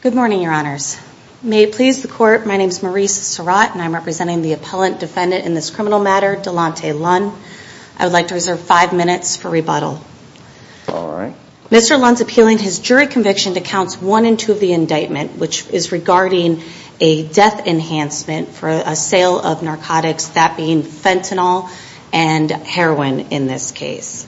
Good morning, Your Honors. May it please the Court, my name is Maurice Surratt and I'm representing the appellant defendant in this criminal matter, Delante Lunn. I would like to reserve five minutes for rebuttal. Mr. Lunn's appealing his jury conviction to counts one and two of the indictment, which is regarding a death enhancement for a sale of narcotics, that being fentanyl and heroin in this case.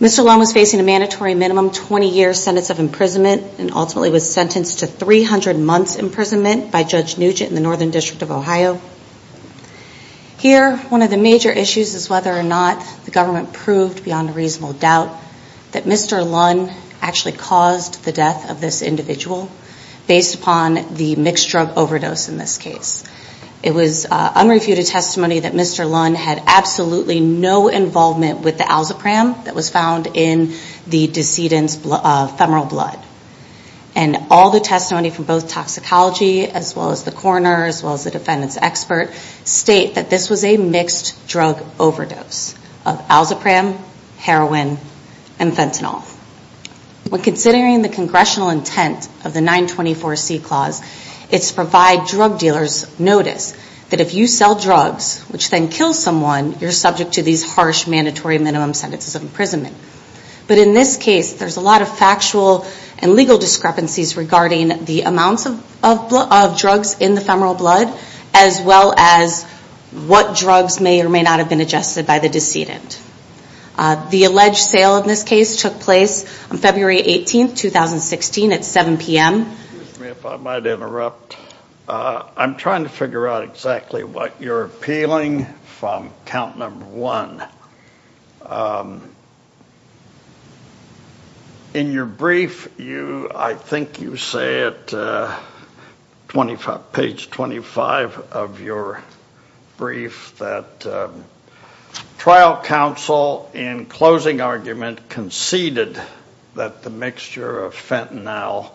Mr. Lunn was facing a mandatory minimum 20-year sentence of imprisonment and ultimately was sentenced to 300 months imprisonment by Judge Nugent in the Northern District of Ohio. Here, one of the major issues is whether or not the government proved beyond a reasonable doubt that Mr. Lunn actually caused the death of this individual, based upon the mixed drug overdose in this case. It was unreviewed testimony that Mr. Lunn had absolutely no involvement with the alzepram that was found in the decedent's femoral blood. And all the testimony from both toxicology, as well as the coroner, as well as the defendant's expert, state that this was a mixed drug overdose of alzepram, heroin, and fentanyl. When considering the congressional intent of the 924C Clause, it's to provide drug dealers notice that if you sell drugs, which then kills someone, you're subject to these harsh mandatory minimum sentences of imprisonment. But in this case, there's a lot of factual and legal discrepancies regarding the amounts of drugs in the femoral blood, as well as what drugs may or may not have been ingested by the decedent. The alleged sale of this case took place on February 18, 2016, at 7 p.m. Excuse me if I might interrupt. I'm trying to figure out exactly what you're appealing from count number one. In your brief, I think you say it, page 25, that you're appealing 25 of your brief that trial counsel, in closing argument, conceded that the mixture of fentanyl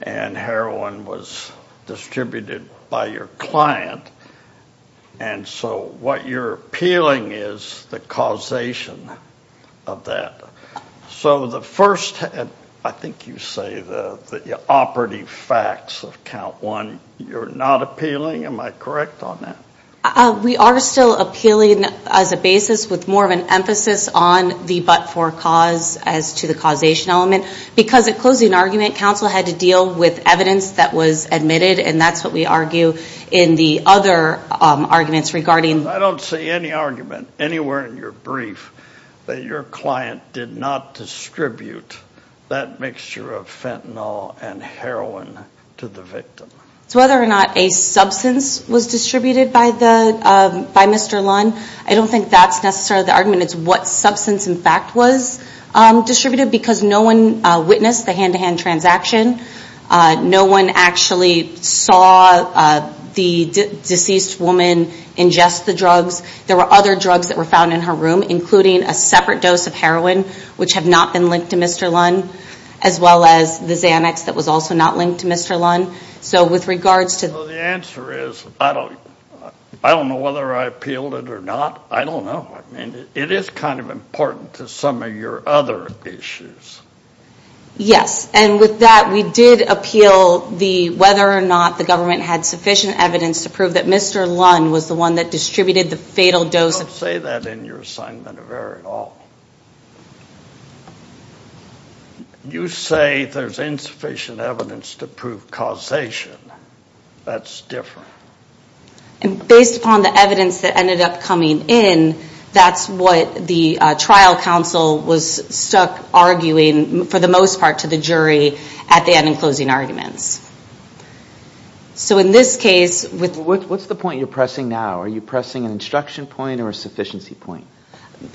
and heroin was distributed by your client. And so what you're appealing is the causation of that. So the first, I think you say, the operative facts of count one, you're not appealing them. Am I correct on that? We are still appealing as a basis with more of an emphasis on the but for cause as to the causation element. Because at closing argument, counsel had to deal with evidence that was admitted, and that's what we argue in the other arguments regarding... I don't see any argument anywhere in your brief that your client did not distribute that mixture of fentanyl and heroin to the victim. Whether or not a substance was distributed by Mr. Lunn, I don't think that's necessarily the argument. It's what substance, in fact, was distributed because no one witnessed the hand-to-hand transaction. No one actually saw the deceased woman ingest the drugs. There were other drugs that were found in her room, including a separate dose of heroin, which have not been linked to Mr. Lunn, as well as the Xanax that was also not linked to Mr. Lunn. So with regards to... The answer is I don't know whether I appealed it or not. I don't know. I mean, it is kind of important to some of your other issues. Yes. And with that, we did appeal the whether or not the government had sufficient evidence to prove that Mr. Lunn was the one that distributed the fatal dose... Don't say that in your assignment of error at all. You say there's insufficient evidence to prove causation. That's different. Based upon the evidence that ended up coming in, that's what the trial counsel was stuck arguing for the most part to the jury at the end in closing arguments. So in this case... What's the point you're pressing now? Are you pressing an instruction point or a sufficiency point?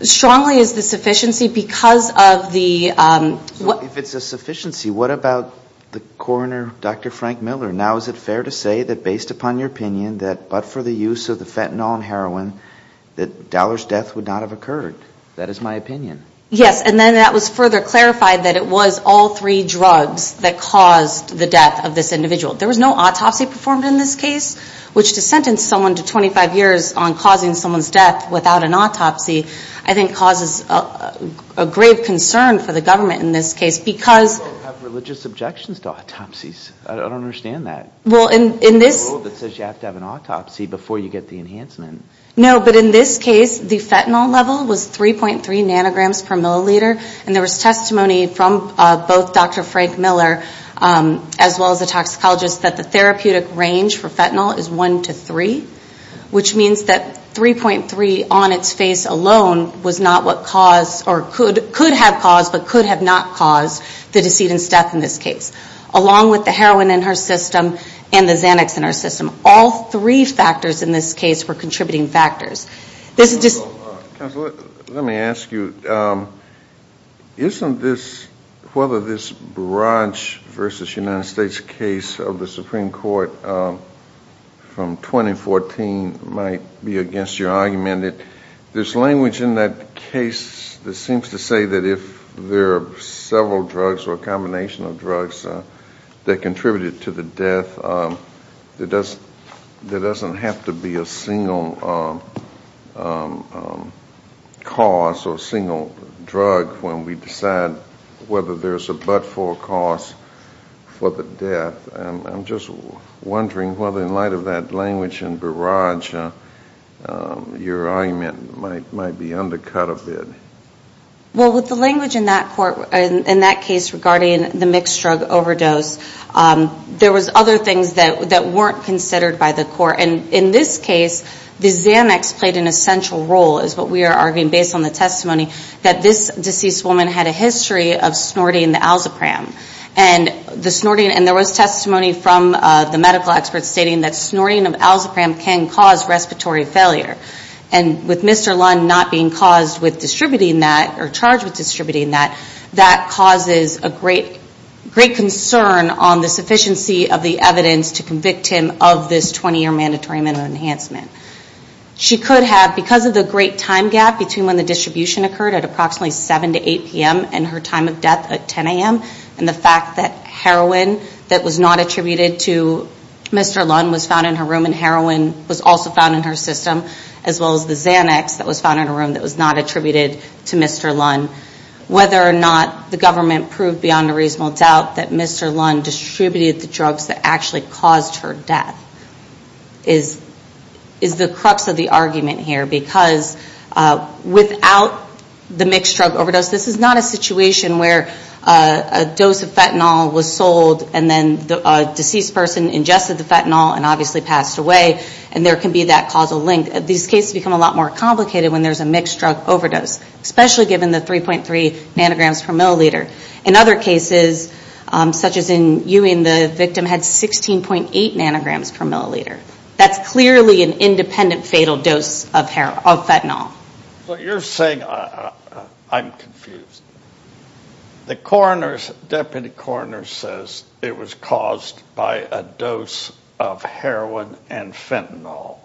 Strongly is the sufficiency because of the... If it's a sufficiency, what about the coroner, Dr. Frank Miller? Now is it fair to say that based upon your opinion that but for the use of the fentanyl and heroin, that Dallar's death would not have occurred? That is my opinion. Yes. And then that was further clarified that it was all three drugs that caused the death of this individual. There was no autopsy performed in this case, which to sentence someone to 25 years on causing someone's death without an autopsy, I think causes a grave concern for the government in this case because... People have religious objections to autopsies. I don't understand that. Well, in this... There's a rule that says you have to have an autopsy before you get the enhancement. No, but in this case, the fentanyl level was 3.3 nanograms per milliliter. And there was testimony from both Dr. Frank Miller as well as the toxicologist that the therapeutic range for fentanyl is one to three, which means that 3.3 on its face alone was not what caused or could have caused but could have not caused the decedent's death in this case, along with the heroin in her system and the Xanax in her system. All three factors in this case were contributing factors. Counselor, let me ask you, isn't this, whether this Branch v. United States case of the Supreme Court from 2014 might be against your argument that this language in that case, the sentence seems to say that if there are several drugs or a combination of drugs that contributed to the death, there doesn't have to be a single cause or a single drug when we decide whether there's a but-for cause for the death. I'm just wondering whether in light of that language and barrage, your argument might be undercut a bit. Well, with the language in that court, in that case regarding the mixed drug overdose, there was other things that weren't considered by the court. And in this case, the Xanax played an essential role is what we are arguing based on the testimony that this deceased woman had a history of snorting the Alzheimer's. And the snorting, and there was testimony from the medical experts stating that snorting of Alzheimer's can cause respiratory failure. And with Mr. Lund not being caused with distributing that or charged with distributing that, that causes a great concern on the sufficiency of the evidence to convict him of this 20 year mandatory minimum enhancement. She could have, because of the great time gap between when the distribution occurred at approximately 7 to 8 p.m. and her time of death at 10 a.m. and the fact that heroin that was not attributed to Mr. Lund was found in her room and heroin was also found in her system as well as the Xanax that was found in her room that was not attributed to Mr. Lund. Whether or not the government proved beyond a reasonable doubt that Mr. Lund distributed the drugs that actually caused her death is the crux of the argument here. Because without the mixed drug overdose, this is not a situation where a dose of fentanyl was sold and then a deceased person ingested the fentanyl and obviously passed away and there can be that causal link. These cases become a lot more complicated when there's a mixed drug overdose, especially given the 3.3 nanograms per milliliter. In other cases, such as in Ewing, the victim had 16.8 nanograms per milliliter. That's clearly an independent fatal dose of fentanyl. So you're saying, I'm confused. The coroner's, Deputy Coroner says it was caused by a dose of heroin and fentanyl.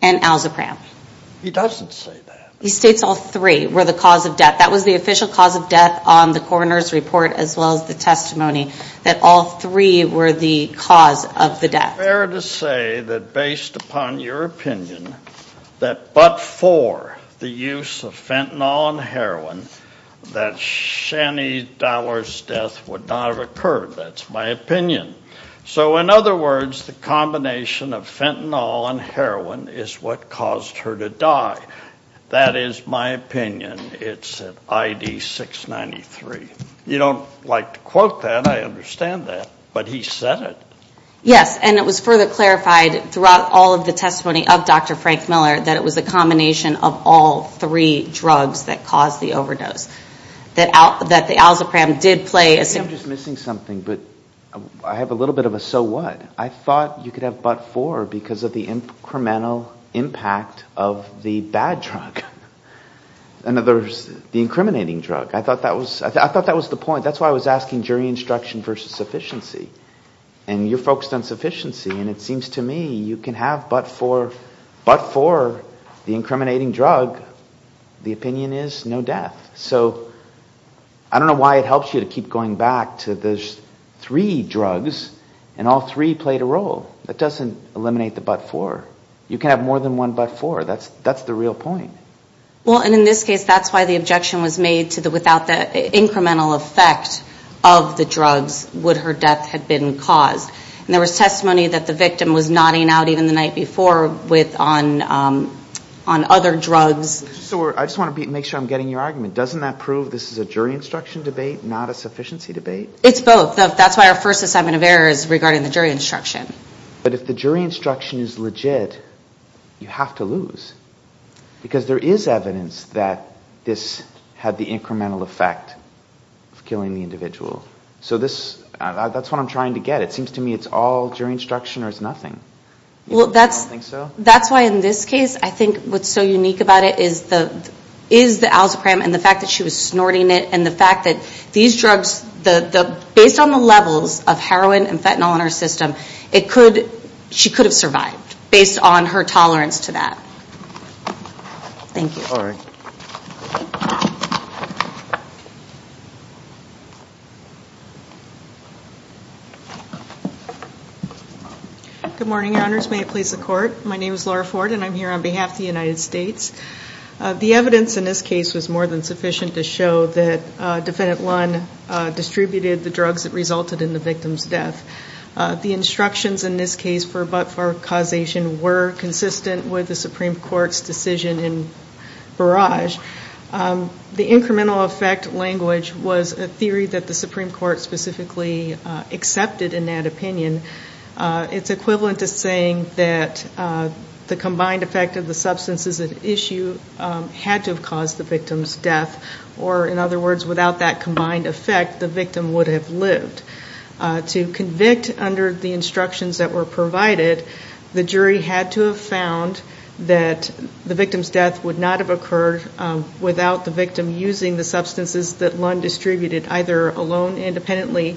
And Alzapram. He doesn't say that. He states all three were the cause of death. That was the official cause of death on the coroner's report as well as the testimony that all three were the cause of the death. Is it fair to say that based upon your opinion, that but for the use of fentanyl and heroin, that Shani Dollar's death would not have occurred? That's my opinion. So in other words, the combination of fentanyl and heroin is what caused her to die. That is my opinion. It's in ID 693. You don't like to quote that. I understand that. But he said it. Yes. And it was further clarified throughout all of the testimony of Dr. Frank Miller that it was a combination of all three drugs that caused the overdose. That the Alzapram did play a... I think I'm just missing something, but I have a little bit of a so what. I thought you could have but for because of the incremental impact of the bad drug. In other words, the incriminating drug. I thought that was the point. That's why I was asking jury instruction versus sufficiency. And you're focused on sufficiency, and it seems to me you can have but for the incriminating drug. The opinion is no death. So I don't know why it helps you to keep going back to the three drugs, and all three played a role. That doesn't eliminate the but for. You can have more than one but for. That's the real point. Well, and in this case, that's why the objection was made to the without the incremental effect of the drugs, would her death have been caused. And there was testimony that the victim was nodding out even the night before with on other drugs. So I just want to make sure I'm getting your argument. Doesn't that prove this is a jury instruction debate, not a sufficiency debate? It's both. That's why our first assignment of error is regarding the jury instruction. But if the jury instruction is legit, you have to lose. Because there is evidence that this had the incremental effect of killing the individual. So that's what I'm trying to get. It seems to me it's all jury instruction or it's nothing. That's why in this case, I think what's so unique about it is the alzheimer's and the fact that she was snorting it and the fact that these drugs, based on the levels of heroin and fentanyl in her system, she could have survived based on her tolerance to that. Thank you. Good morning, your honors. May it please the court. My name is Laura Ford and I'm here on behalf of the United States. The evidence in this case was more than sufficient to show that defendant one distributed the drugs that resulted in the victim's death. The instructions in this case for but-for causation were consistent with the Supreme Court's decision in Barrage. The incremental effect language was a theory that the Supreme Court specifically accepted in that opinion. It's equivalent to saying that the combined effect of the substances at issue had to have caused the victim's death. Or in other words, without that combined effect, the victim would have lived. To convict under the instructions that were provided, the jury had to have found that the victim's death would not have occurred without the victim using the substances that Lund distributed, either alone independently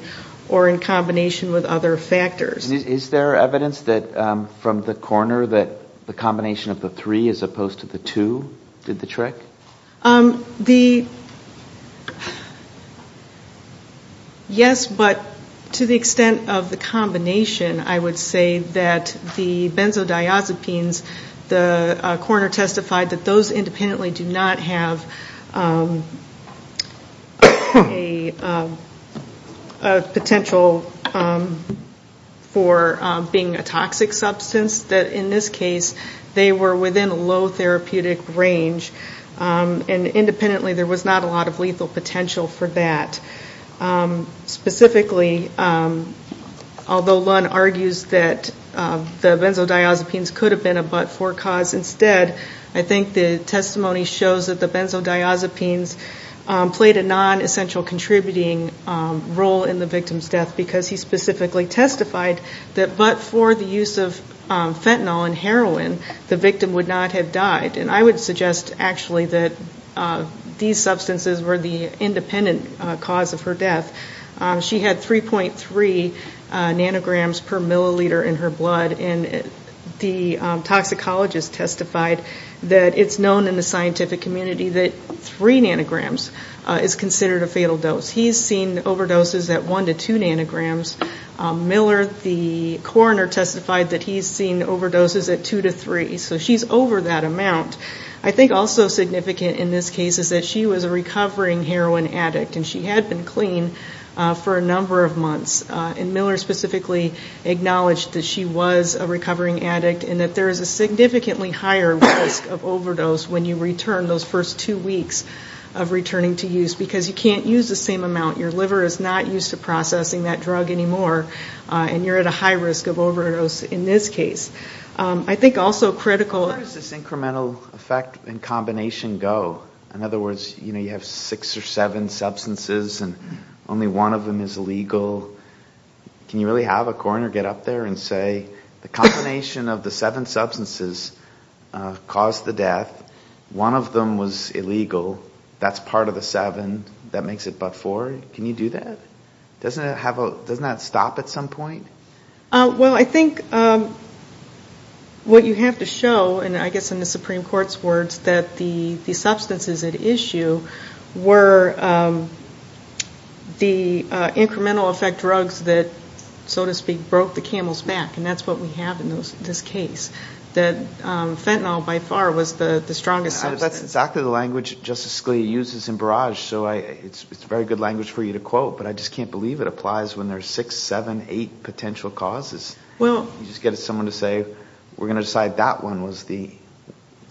or in combination with other factors. Is there evidence that from the coroner that the combination of the three as opposed to the two did the trick? Yes, but to the extent of the combination, I would say that the benzodiazepines, the coroner testified that those independently do not have a potential for being a toxic substance. In this case, they were within a low therapeutic range and independently there was not a lot of lethal potential for that. Specifically, although Lund argues that the benzodiazepines could have been a but-for cause instead, I think the testimony shows that the benzodiazepines played a non-essential contributing role in the victim's death because he specifically testified that but-for the use of fentanyl and heroin, the victim would not have died. I would suggest actually that these substances were the independent cause of her death. She had 3.3 nanograms per milliliter in her blood and the toxicologist testified that it's known in the scientific community that 3 nanograms is considered a fatal dose. He's seen overdoses at 1 to 2 nanograms. Miller, the coroner testified that he's seen overdoses at 2 to 3, so she's over that amount. I think also significant in this case is that she was a recovering heroin addict and she had been clean for a number of months and Miller specifically acknowledged that she was a recovering addict and that there is a significantly higher risk of overdose when you return those first two weeks of returning to use because you can't use the same amount. Your liver is not used to processing that drug anymore and you're at a high risk of overdose in this case. I think also critical... Where does this incremental effect and combination go? In other words, you know, you have six or seven substances and only one of them is illegal. Can you really have a coroner get up there and say the combination of the seven substances caused the death, one of them was illegal? Can you do that? Doesn't that stop at some point? Well I think what you have to show and I guess in the Supreme Court's words that the substances at issue were the incremental effect drugs that, so to speak, broke the camel's back and that's what we have in this case. That fentanyl by far was the strongest substance. That's exactly the language Justice Scalia uses in Barrage, so it's very good language for you to quote, but I just can't believe it applies when there's six, seven, eight potential causes. You just get someone to say, we're going to decide that one was the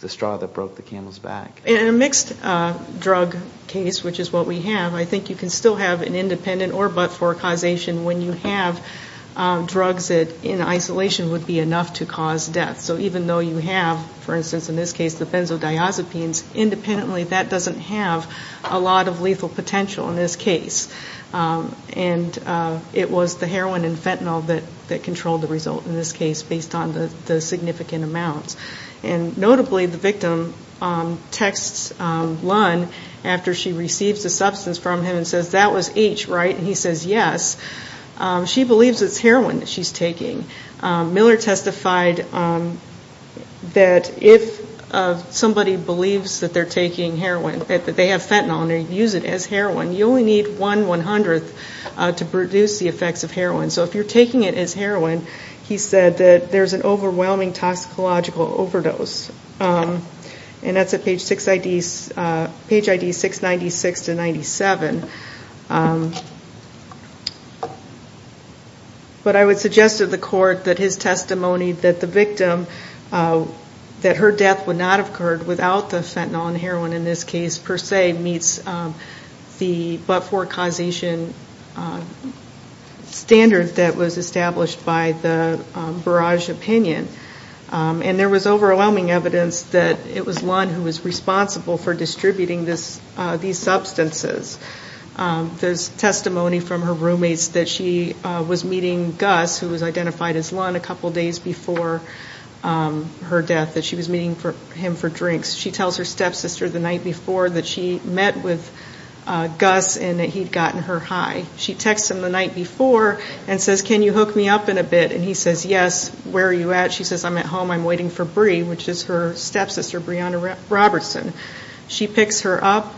straw that broke the camel's back. In a mixed drug case, which is what we have, I think you can still have an independent or but-for causation when you have drugs that in isolation would be enough to cause death. So even though you have, for instance in this case, the benzodiazepines, independently that doesn't have a lot of lethal potential in this case. And it was the heroin and fentanyl that controlled the result in this case based on the significant amounts. And notably the victim texts Lunn after she receives the substance from him and says, that was H, right? And he says yes. She believes it's heroin that she's taking. Miller testified that if somebody believes that they're taking heroin, that they have fentanyl and they use it as heroin, you only need one one-hundredth to produce the effects of heroin. So if you're taking it as heroin, he said that there's an overwhelming toxicological overdose. And that's at page 696 to 97. But I would suggest to the court that his testimony that the victim, that her death would not have occurred without the fentanyl and heroin in this case per se meets the but-for causation standard that was established by the Barrage opinion. And there was overwhelming evidence that it was Lunn who was responsible for distributing these substances. There's testimony from her roommates that she was meeting Gus, who was identified as Lunn a couple days before her death, that she was meeting him for drinks. She tells her stepsister the night before that she met with Gus and that he'd gotten her high. She texts him the night before and says, can you hook me up in a bit? And he says yes. Where are you at? She says, I'm at home. I'm waiting for Bree, which is her stepsister, Brianna Robertson. She picks her up.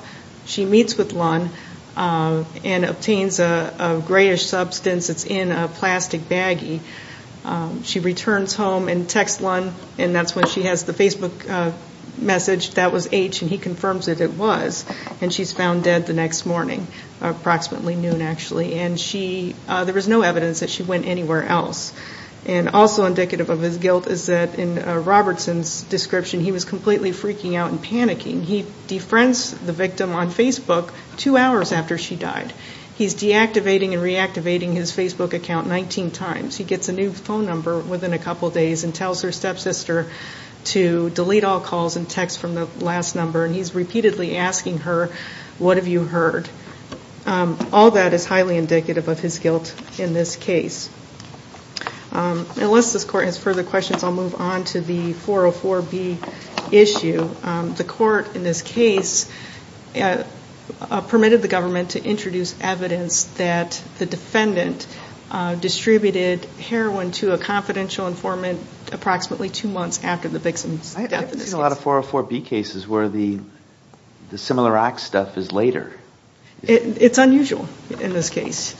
She meets with Lunn and obtains a grayish substance. It's in a plastic baggie. She returns home and texts Lunn, and that's when she has the Facebook message. That was H, and he confirms that it was. And she's found dead the next morning, approximately noon actually. And she, there was no evidence that she went anywhere else. And also indicative of his guilt is that in Robertson's description, he was completely freaking out and panicking. He defriends the victim on Facebook two hours after she died. He's deactivating and reactivating his Facebook account 19 times. He gets a new phone number within a couple days and tells her stepsister to delete all calls and texts from the last number, and he's repeatedly asking her, what have you heard? All that is highly indicative of his guilt in this case. Unless this court has further questions, I'll move on to the 404B issue. The court in this case permitted the government to introduce evidence that the defendant distributed heroin to a confidential informant approximately two months after the victim's death. I've seen a lot of 404B cases where the similar acts stuff is later. It's unusual in this case.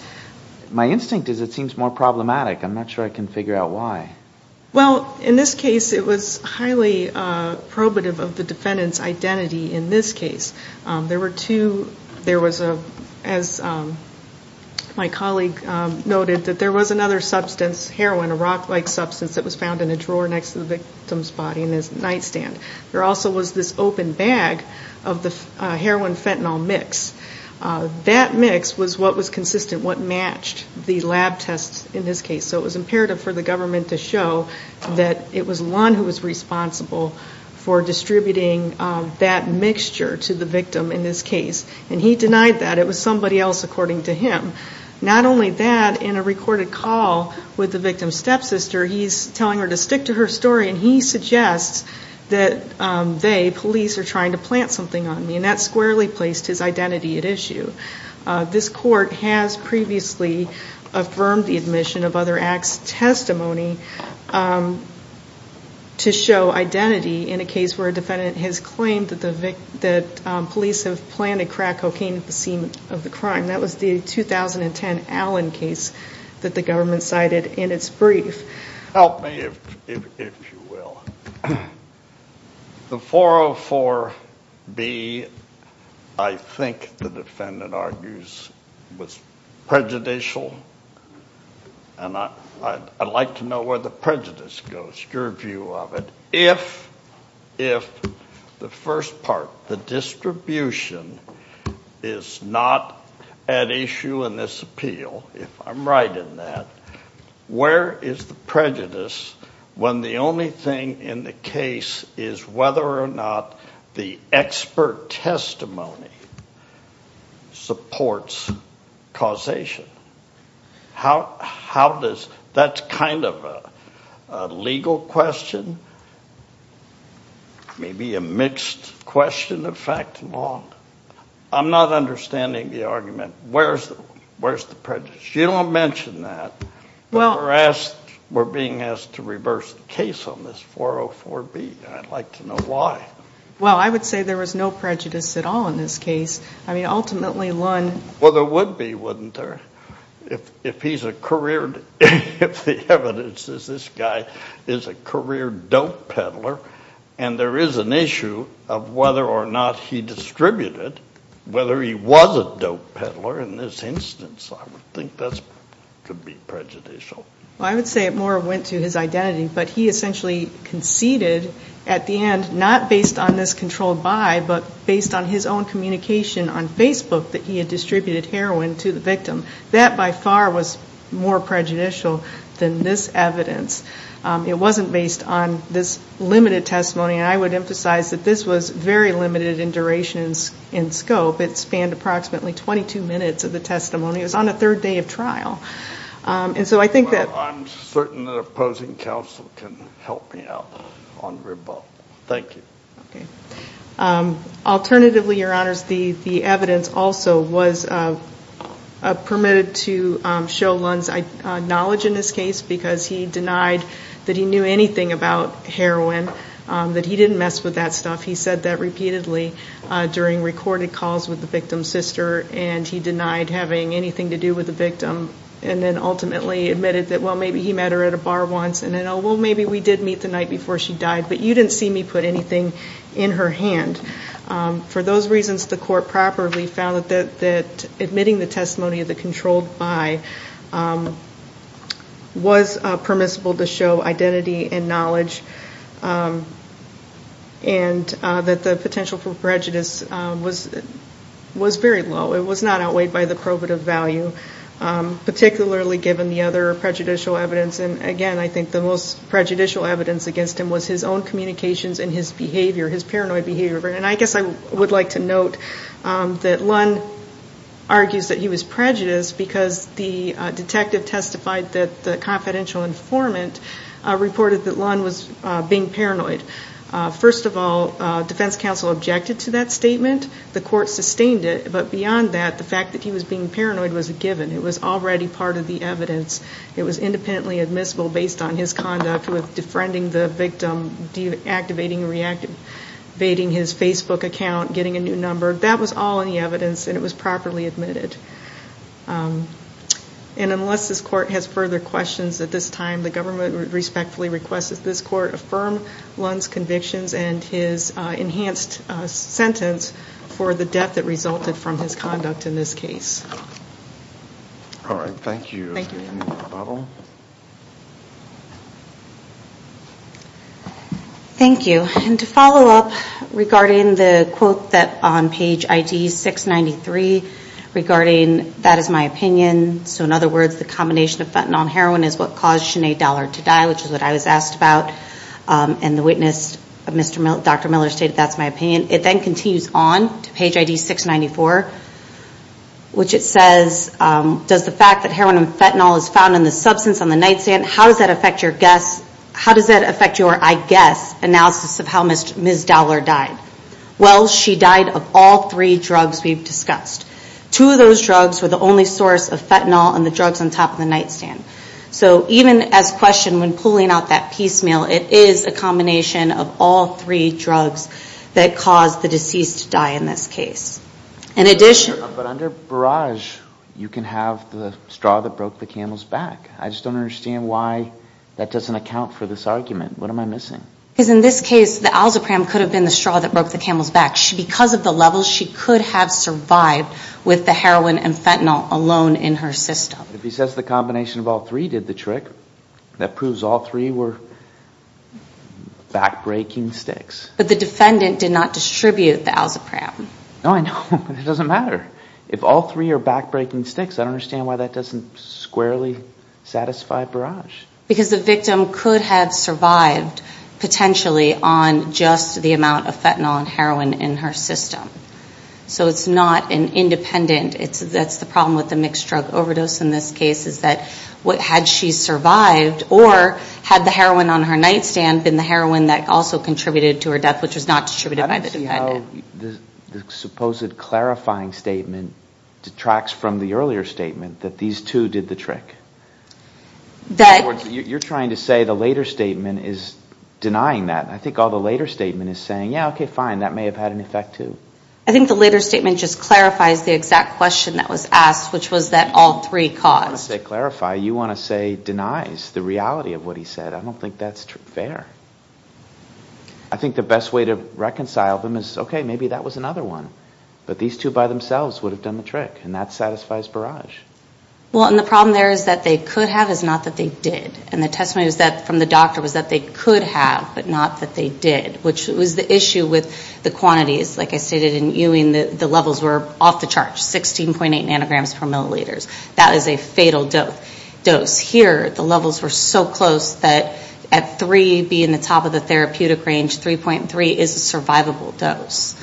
My instinct is it seems more problematic. I'm not sure I can figure out why. Well, in this case, it was highly probative of the defendant's identity in this case. There were two, there was a, as my colleague noted, that there was another substance, heroin, a rock-like substance that was found in a drawer next to the victim's body in his nightstand. There also was this open bag of the heroin-fentanyl mix. That mix was what was consistent with what matched the lab tests in this case. So it was imperative for the government to show that it was Lund who was responsible for distributing that mixture to the victim in this case. And he denied that. It was somebody else according to him. Not only that, in a recorded call with the victim's stepsister, he's telling her to stick to her story and he suggests that they, police, are trying to plant something on me. And that squarely placed his identity at issue. This court has previously affirmed the admission of other acts testimony to show identity in a case where a defendant has claimed that police have planned to crack cocaine at the scene of the crime. That was the 2010 Allen case that the government cited in its brief. Help me if you will. The 404B, I think the defendant argues, was prejudicial. I'd like to know where the prejudice goes, your view of it. If the first part, the distribution, is not at issue in this appeal, if I'm right in that, where is the prejudice when the only thing in the case is whether or not the expert testimony supports causation? That's kind of a legal question, maybe a mixed question of fact and law. I'm not understanding the argument. Where's the prejudice? You don't mention that. We're being asked to reverse the case on this 404B. I'd like to know why. Well I would say there was no prejudice at all in this case. I mean, ultimately, Lund- Well there would be, wouldn't there? If he's a career, if the evidence is this guy is a career dope peddler and there is an issue of whether or not he distributed, whether he was a dope peddler in this instance, I would think that could be prejudicial. I would say it more went to his identity, but he essentially conceded at the end, not based on this controlled by, but based on his own communication on Facebook that he had distributed heroin to the victim. That by far was more prejudicial than this evidence. It wasn't based on this limited testimony and I would emphasize that this was very limited in durations and scope. It spanned approximately 22 minutes of the testimony. It was on the third day of trial. And so I think that- Well I'm certain that opposing counsel can help me out on the rebuttal. Thank you. Alternatively, your honors, the evidence also was permitted to show Lund's knowledge in this case because he denied that he knew anything about heroin, that he didn't mess with that stuff. He said that repeatedly during recorded calls with the victim's sister and he denied having anything to do with the victim and then ultimately admitted that well maybe he met her at a bar once and then oh well maybe we did meet the night before she died, but you didn't see me put anything in her hand. For those reasons, the court properly found that admitting the testimony of the controlled by was permissible to show identity and knowledge and that the potential for prejudice was very low. It was not outweighed by the probative value, particularly given the other prejudicial evidence and again I think the most prejudicial evidence against him was his own communications and his behavior, his behavior. Lund argues that he was prejudiced because the detective testified that the confidential informant reported that Lund was being paranoid. First of all, defense counsel objected to that statement. The court sustained it, but beyond that the fact that he was being paranoid was a given. It was already part of the evidence. It was independently admissible based on his conduct with defriending the victim, deactivating his Facebook account, getting a new number. That was all in the evidence and it was properly admitted. And unless this court has further questions at this time, the government respectfully requests that this court affirm Lund's convictions and his enhanced sentence for the death that resulted from his conduct in this case. Alright, thank you. Thank you. Thank you. And to follow up regarding the quote that on page ID 693 regarding that is my opinion, so in other words the combination of fentanyl and heroin is what caused Sinead Dallard to die, which is what I was asked about and the witness, Dr. Miller, stated that's my opinion. It then continues on to page ID 694, which it says, does the fact that heroin and fentanyl is found in the substance on the nightstand, how does that affect your guess, how does that affect your, I guess, analysis of how Ms. Dallard died? Well, she died of all three drugs we've discussed. Two of those drugs were the only source of fentanyl and the drugs on top of the nightstand. So even as questioned when pulling out that piecemeal, it is a combination of all three drugs that caused the deceased to die in this case, the alzapram could have been the straw that broke the camel's back. I just don't understand why that doesn't account for this argument. What am I missing? Because in this case, the alzapram could have been the straw that broke the camel's back. Because of the levels, she could have survived with the heroin and fentanyl alone in her system. But if he says the combination of all three did the trick, that proves all three were back-breaking sticks. But the defendant did not distribute the alzapram. No, I know, but it doesn't matter. If all three are back-breaking sticks, I don't understand why that doesn't squarely satisfy Barrage. Because the victim could have survived, potentially, on just the amount of fentanyl and heroin in her system. So it's not an independent, that's the problem with the mixed drug overdose in this case, is that had she survived, or had the heroin on her nightstand been the heroin that also contributed to her death, which was not distributed by the defendant. I don't know how the supposed clarifying statement detracts from the earlier statement that these two did the trick. That... You're trying to say the later statement is denying that. I think all the later statement is saying, yeah, okay, fine, that may have had an effect, too. I think the later statement just clarifies the exact question that was asked, which was that all three caused. I don't want to say clarify, you want to say denies the reality of what he said. I don't think the best way to reconcile them is, okay, maybe that was another one. But these two by themselves would have done the trick, and that satisfies Barrage. Well, and the problem there is that they could have, it's not that they did. And the testimony was that, from the doctor, was that they could have, but not that they did, which was the issue with the quantities. Like I stated in Ewing, the levels were off the charts, 16.8 nanograms per milliliters. That is a fatal dose. Here, the levels were so close that at 3 being the top of the therapeutic range, 3.3 is a survivable dose,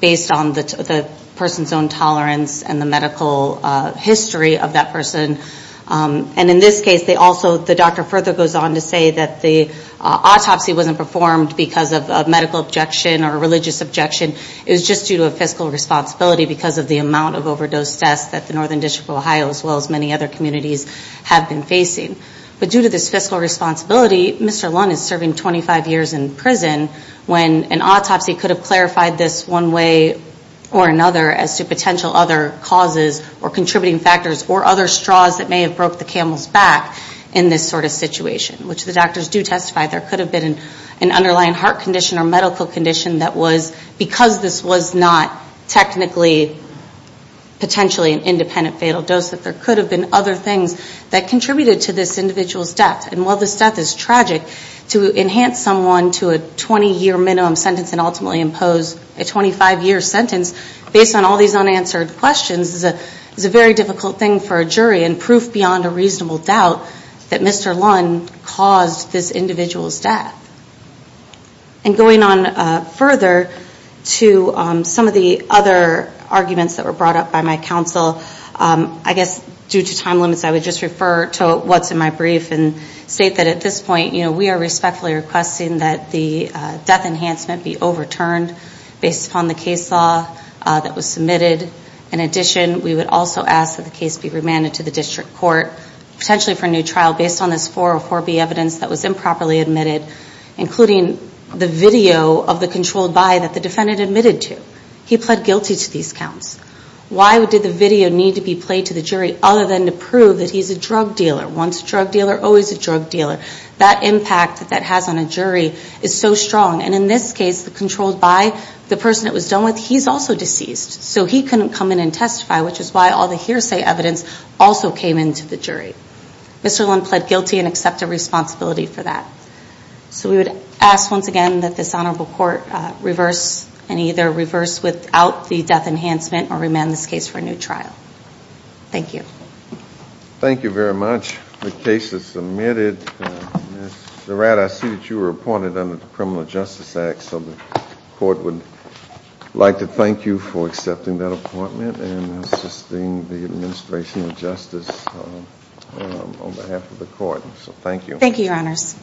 based on the person's own tolerance and the medical history of that person. And in this case, they also, the doctor further goes on to say that the autopsy wasn't performed because of a medical objection or a religious objection. It was just due to a fiscal responsibility because of the amount of overdose deaths that the Northern District of Ohio, as well as many other communities, have been facing. But due to this fiscal responsibility, Mr. Lund is serving 25 years in prison when an autopsy could have clarified this one way or another as to potential other causes or contributing factors or other straws that may have broke the camel's back in this sort of situation, which the doctors do testify there could have been an underlying heart condition or medical condition that was, because this was not technically, potentially an independent fatal dose, that there could have been other things that contributed to this individual's death. And while this death is tragic, to enhance someone to a 20-year minimum sentence and ultimately impose a 25-year sentence based on all these unanswered questions is a very difficult thing for a jury and proof beyond a reasonable doubt that Mr. Lund caused this individual's death. And going on further to some of the other arguments that were brought up by my counsel, I guess due to time limits, I would just refer to what's in my brief and state that at this point we are respectfully requesting that the death enhancement be overturned based upon the case law that was submitted. In addition, we would also ask that the case be remanded to the district court, potentially for a new trial based on this 404B evidence that was submitted, including the video of the controlled by that the defendant admitted to. He pled guilty to these counts. Why did the video need to be played to the jury other than to prove that he's a drug dealer? Once a drug dealer, always a drug dealer. That impact that has on a jury is so strong. And in this case, the controlled by, the person it was done with, he's also deceased. So he couldn't come in and testify, which is why all the hearsay evidence also came into the jury. Mr. Lund pled guilty and accepted responsibility for that. So we would ask once again that this honorable court reverse and either reverse without the death enhancement or remand this case for a new trial. Thank you. Thank you very much. The case is submitted. Ms. Durratt, I see that you were appointed under the Criminal Justice Act, so the court would like to thank you for accepting that appointment and assisting the administration of justice on behalf of the court. So thank you. Thank you, Your Honors.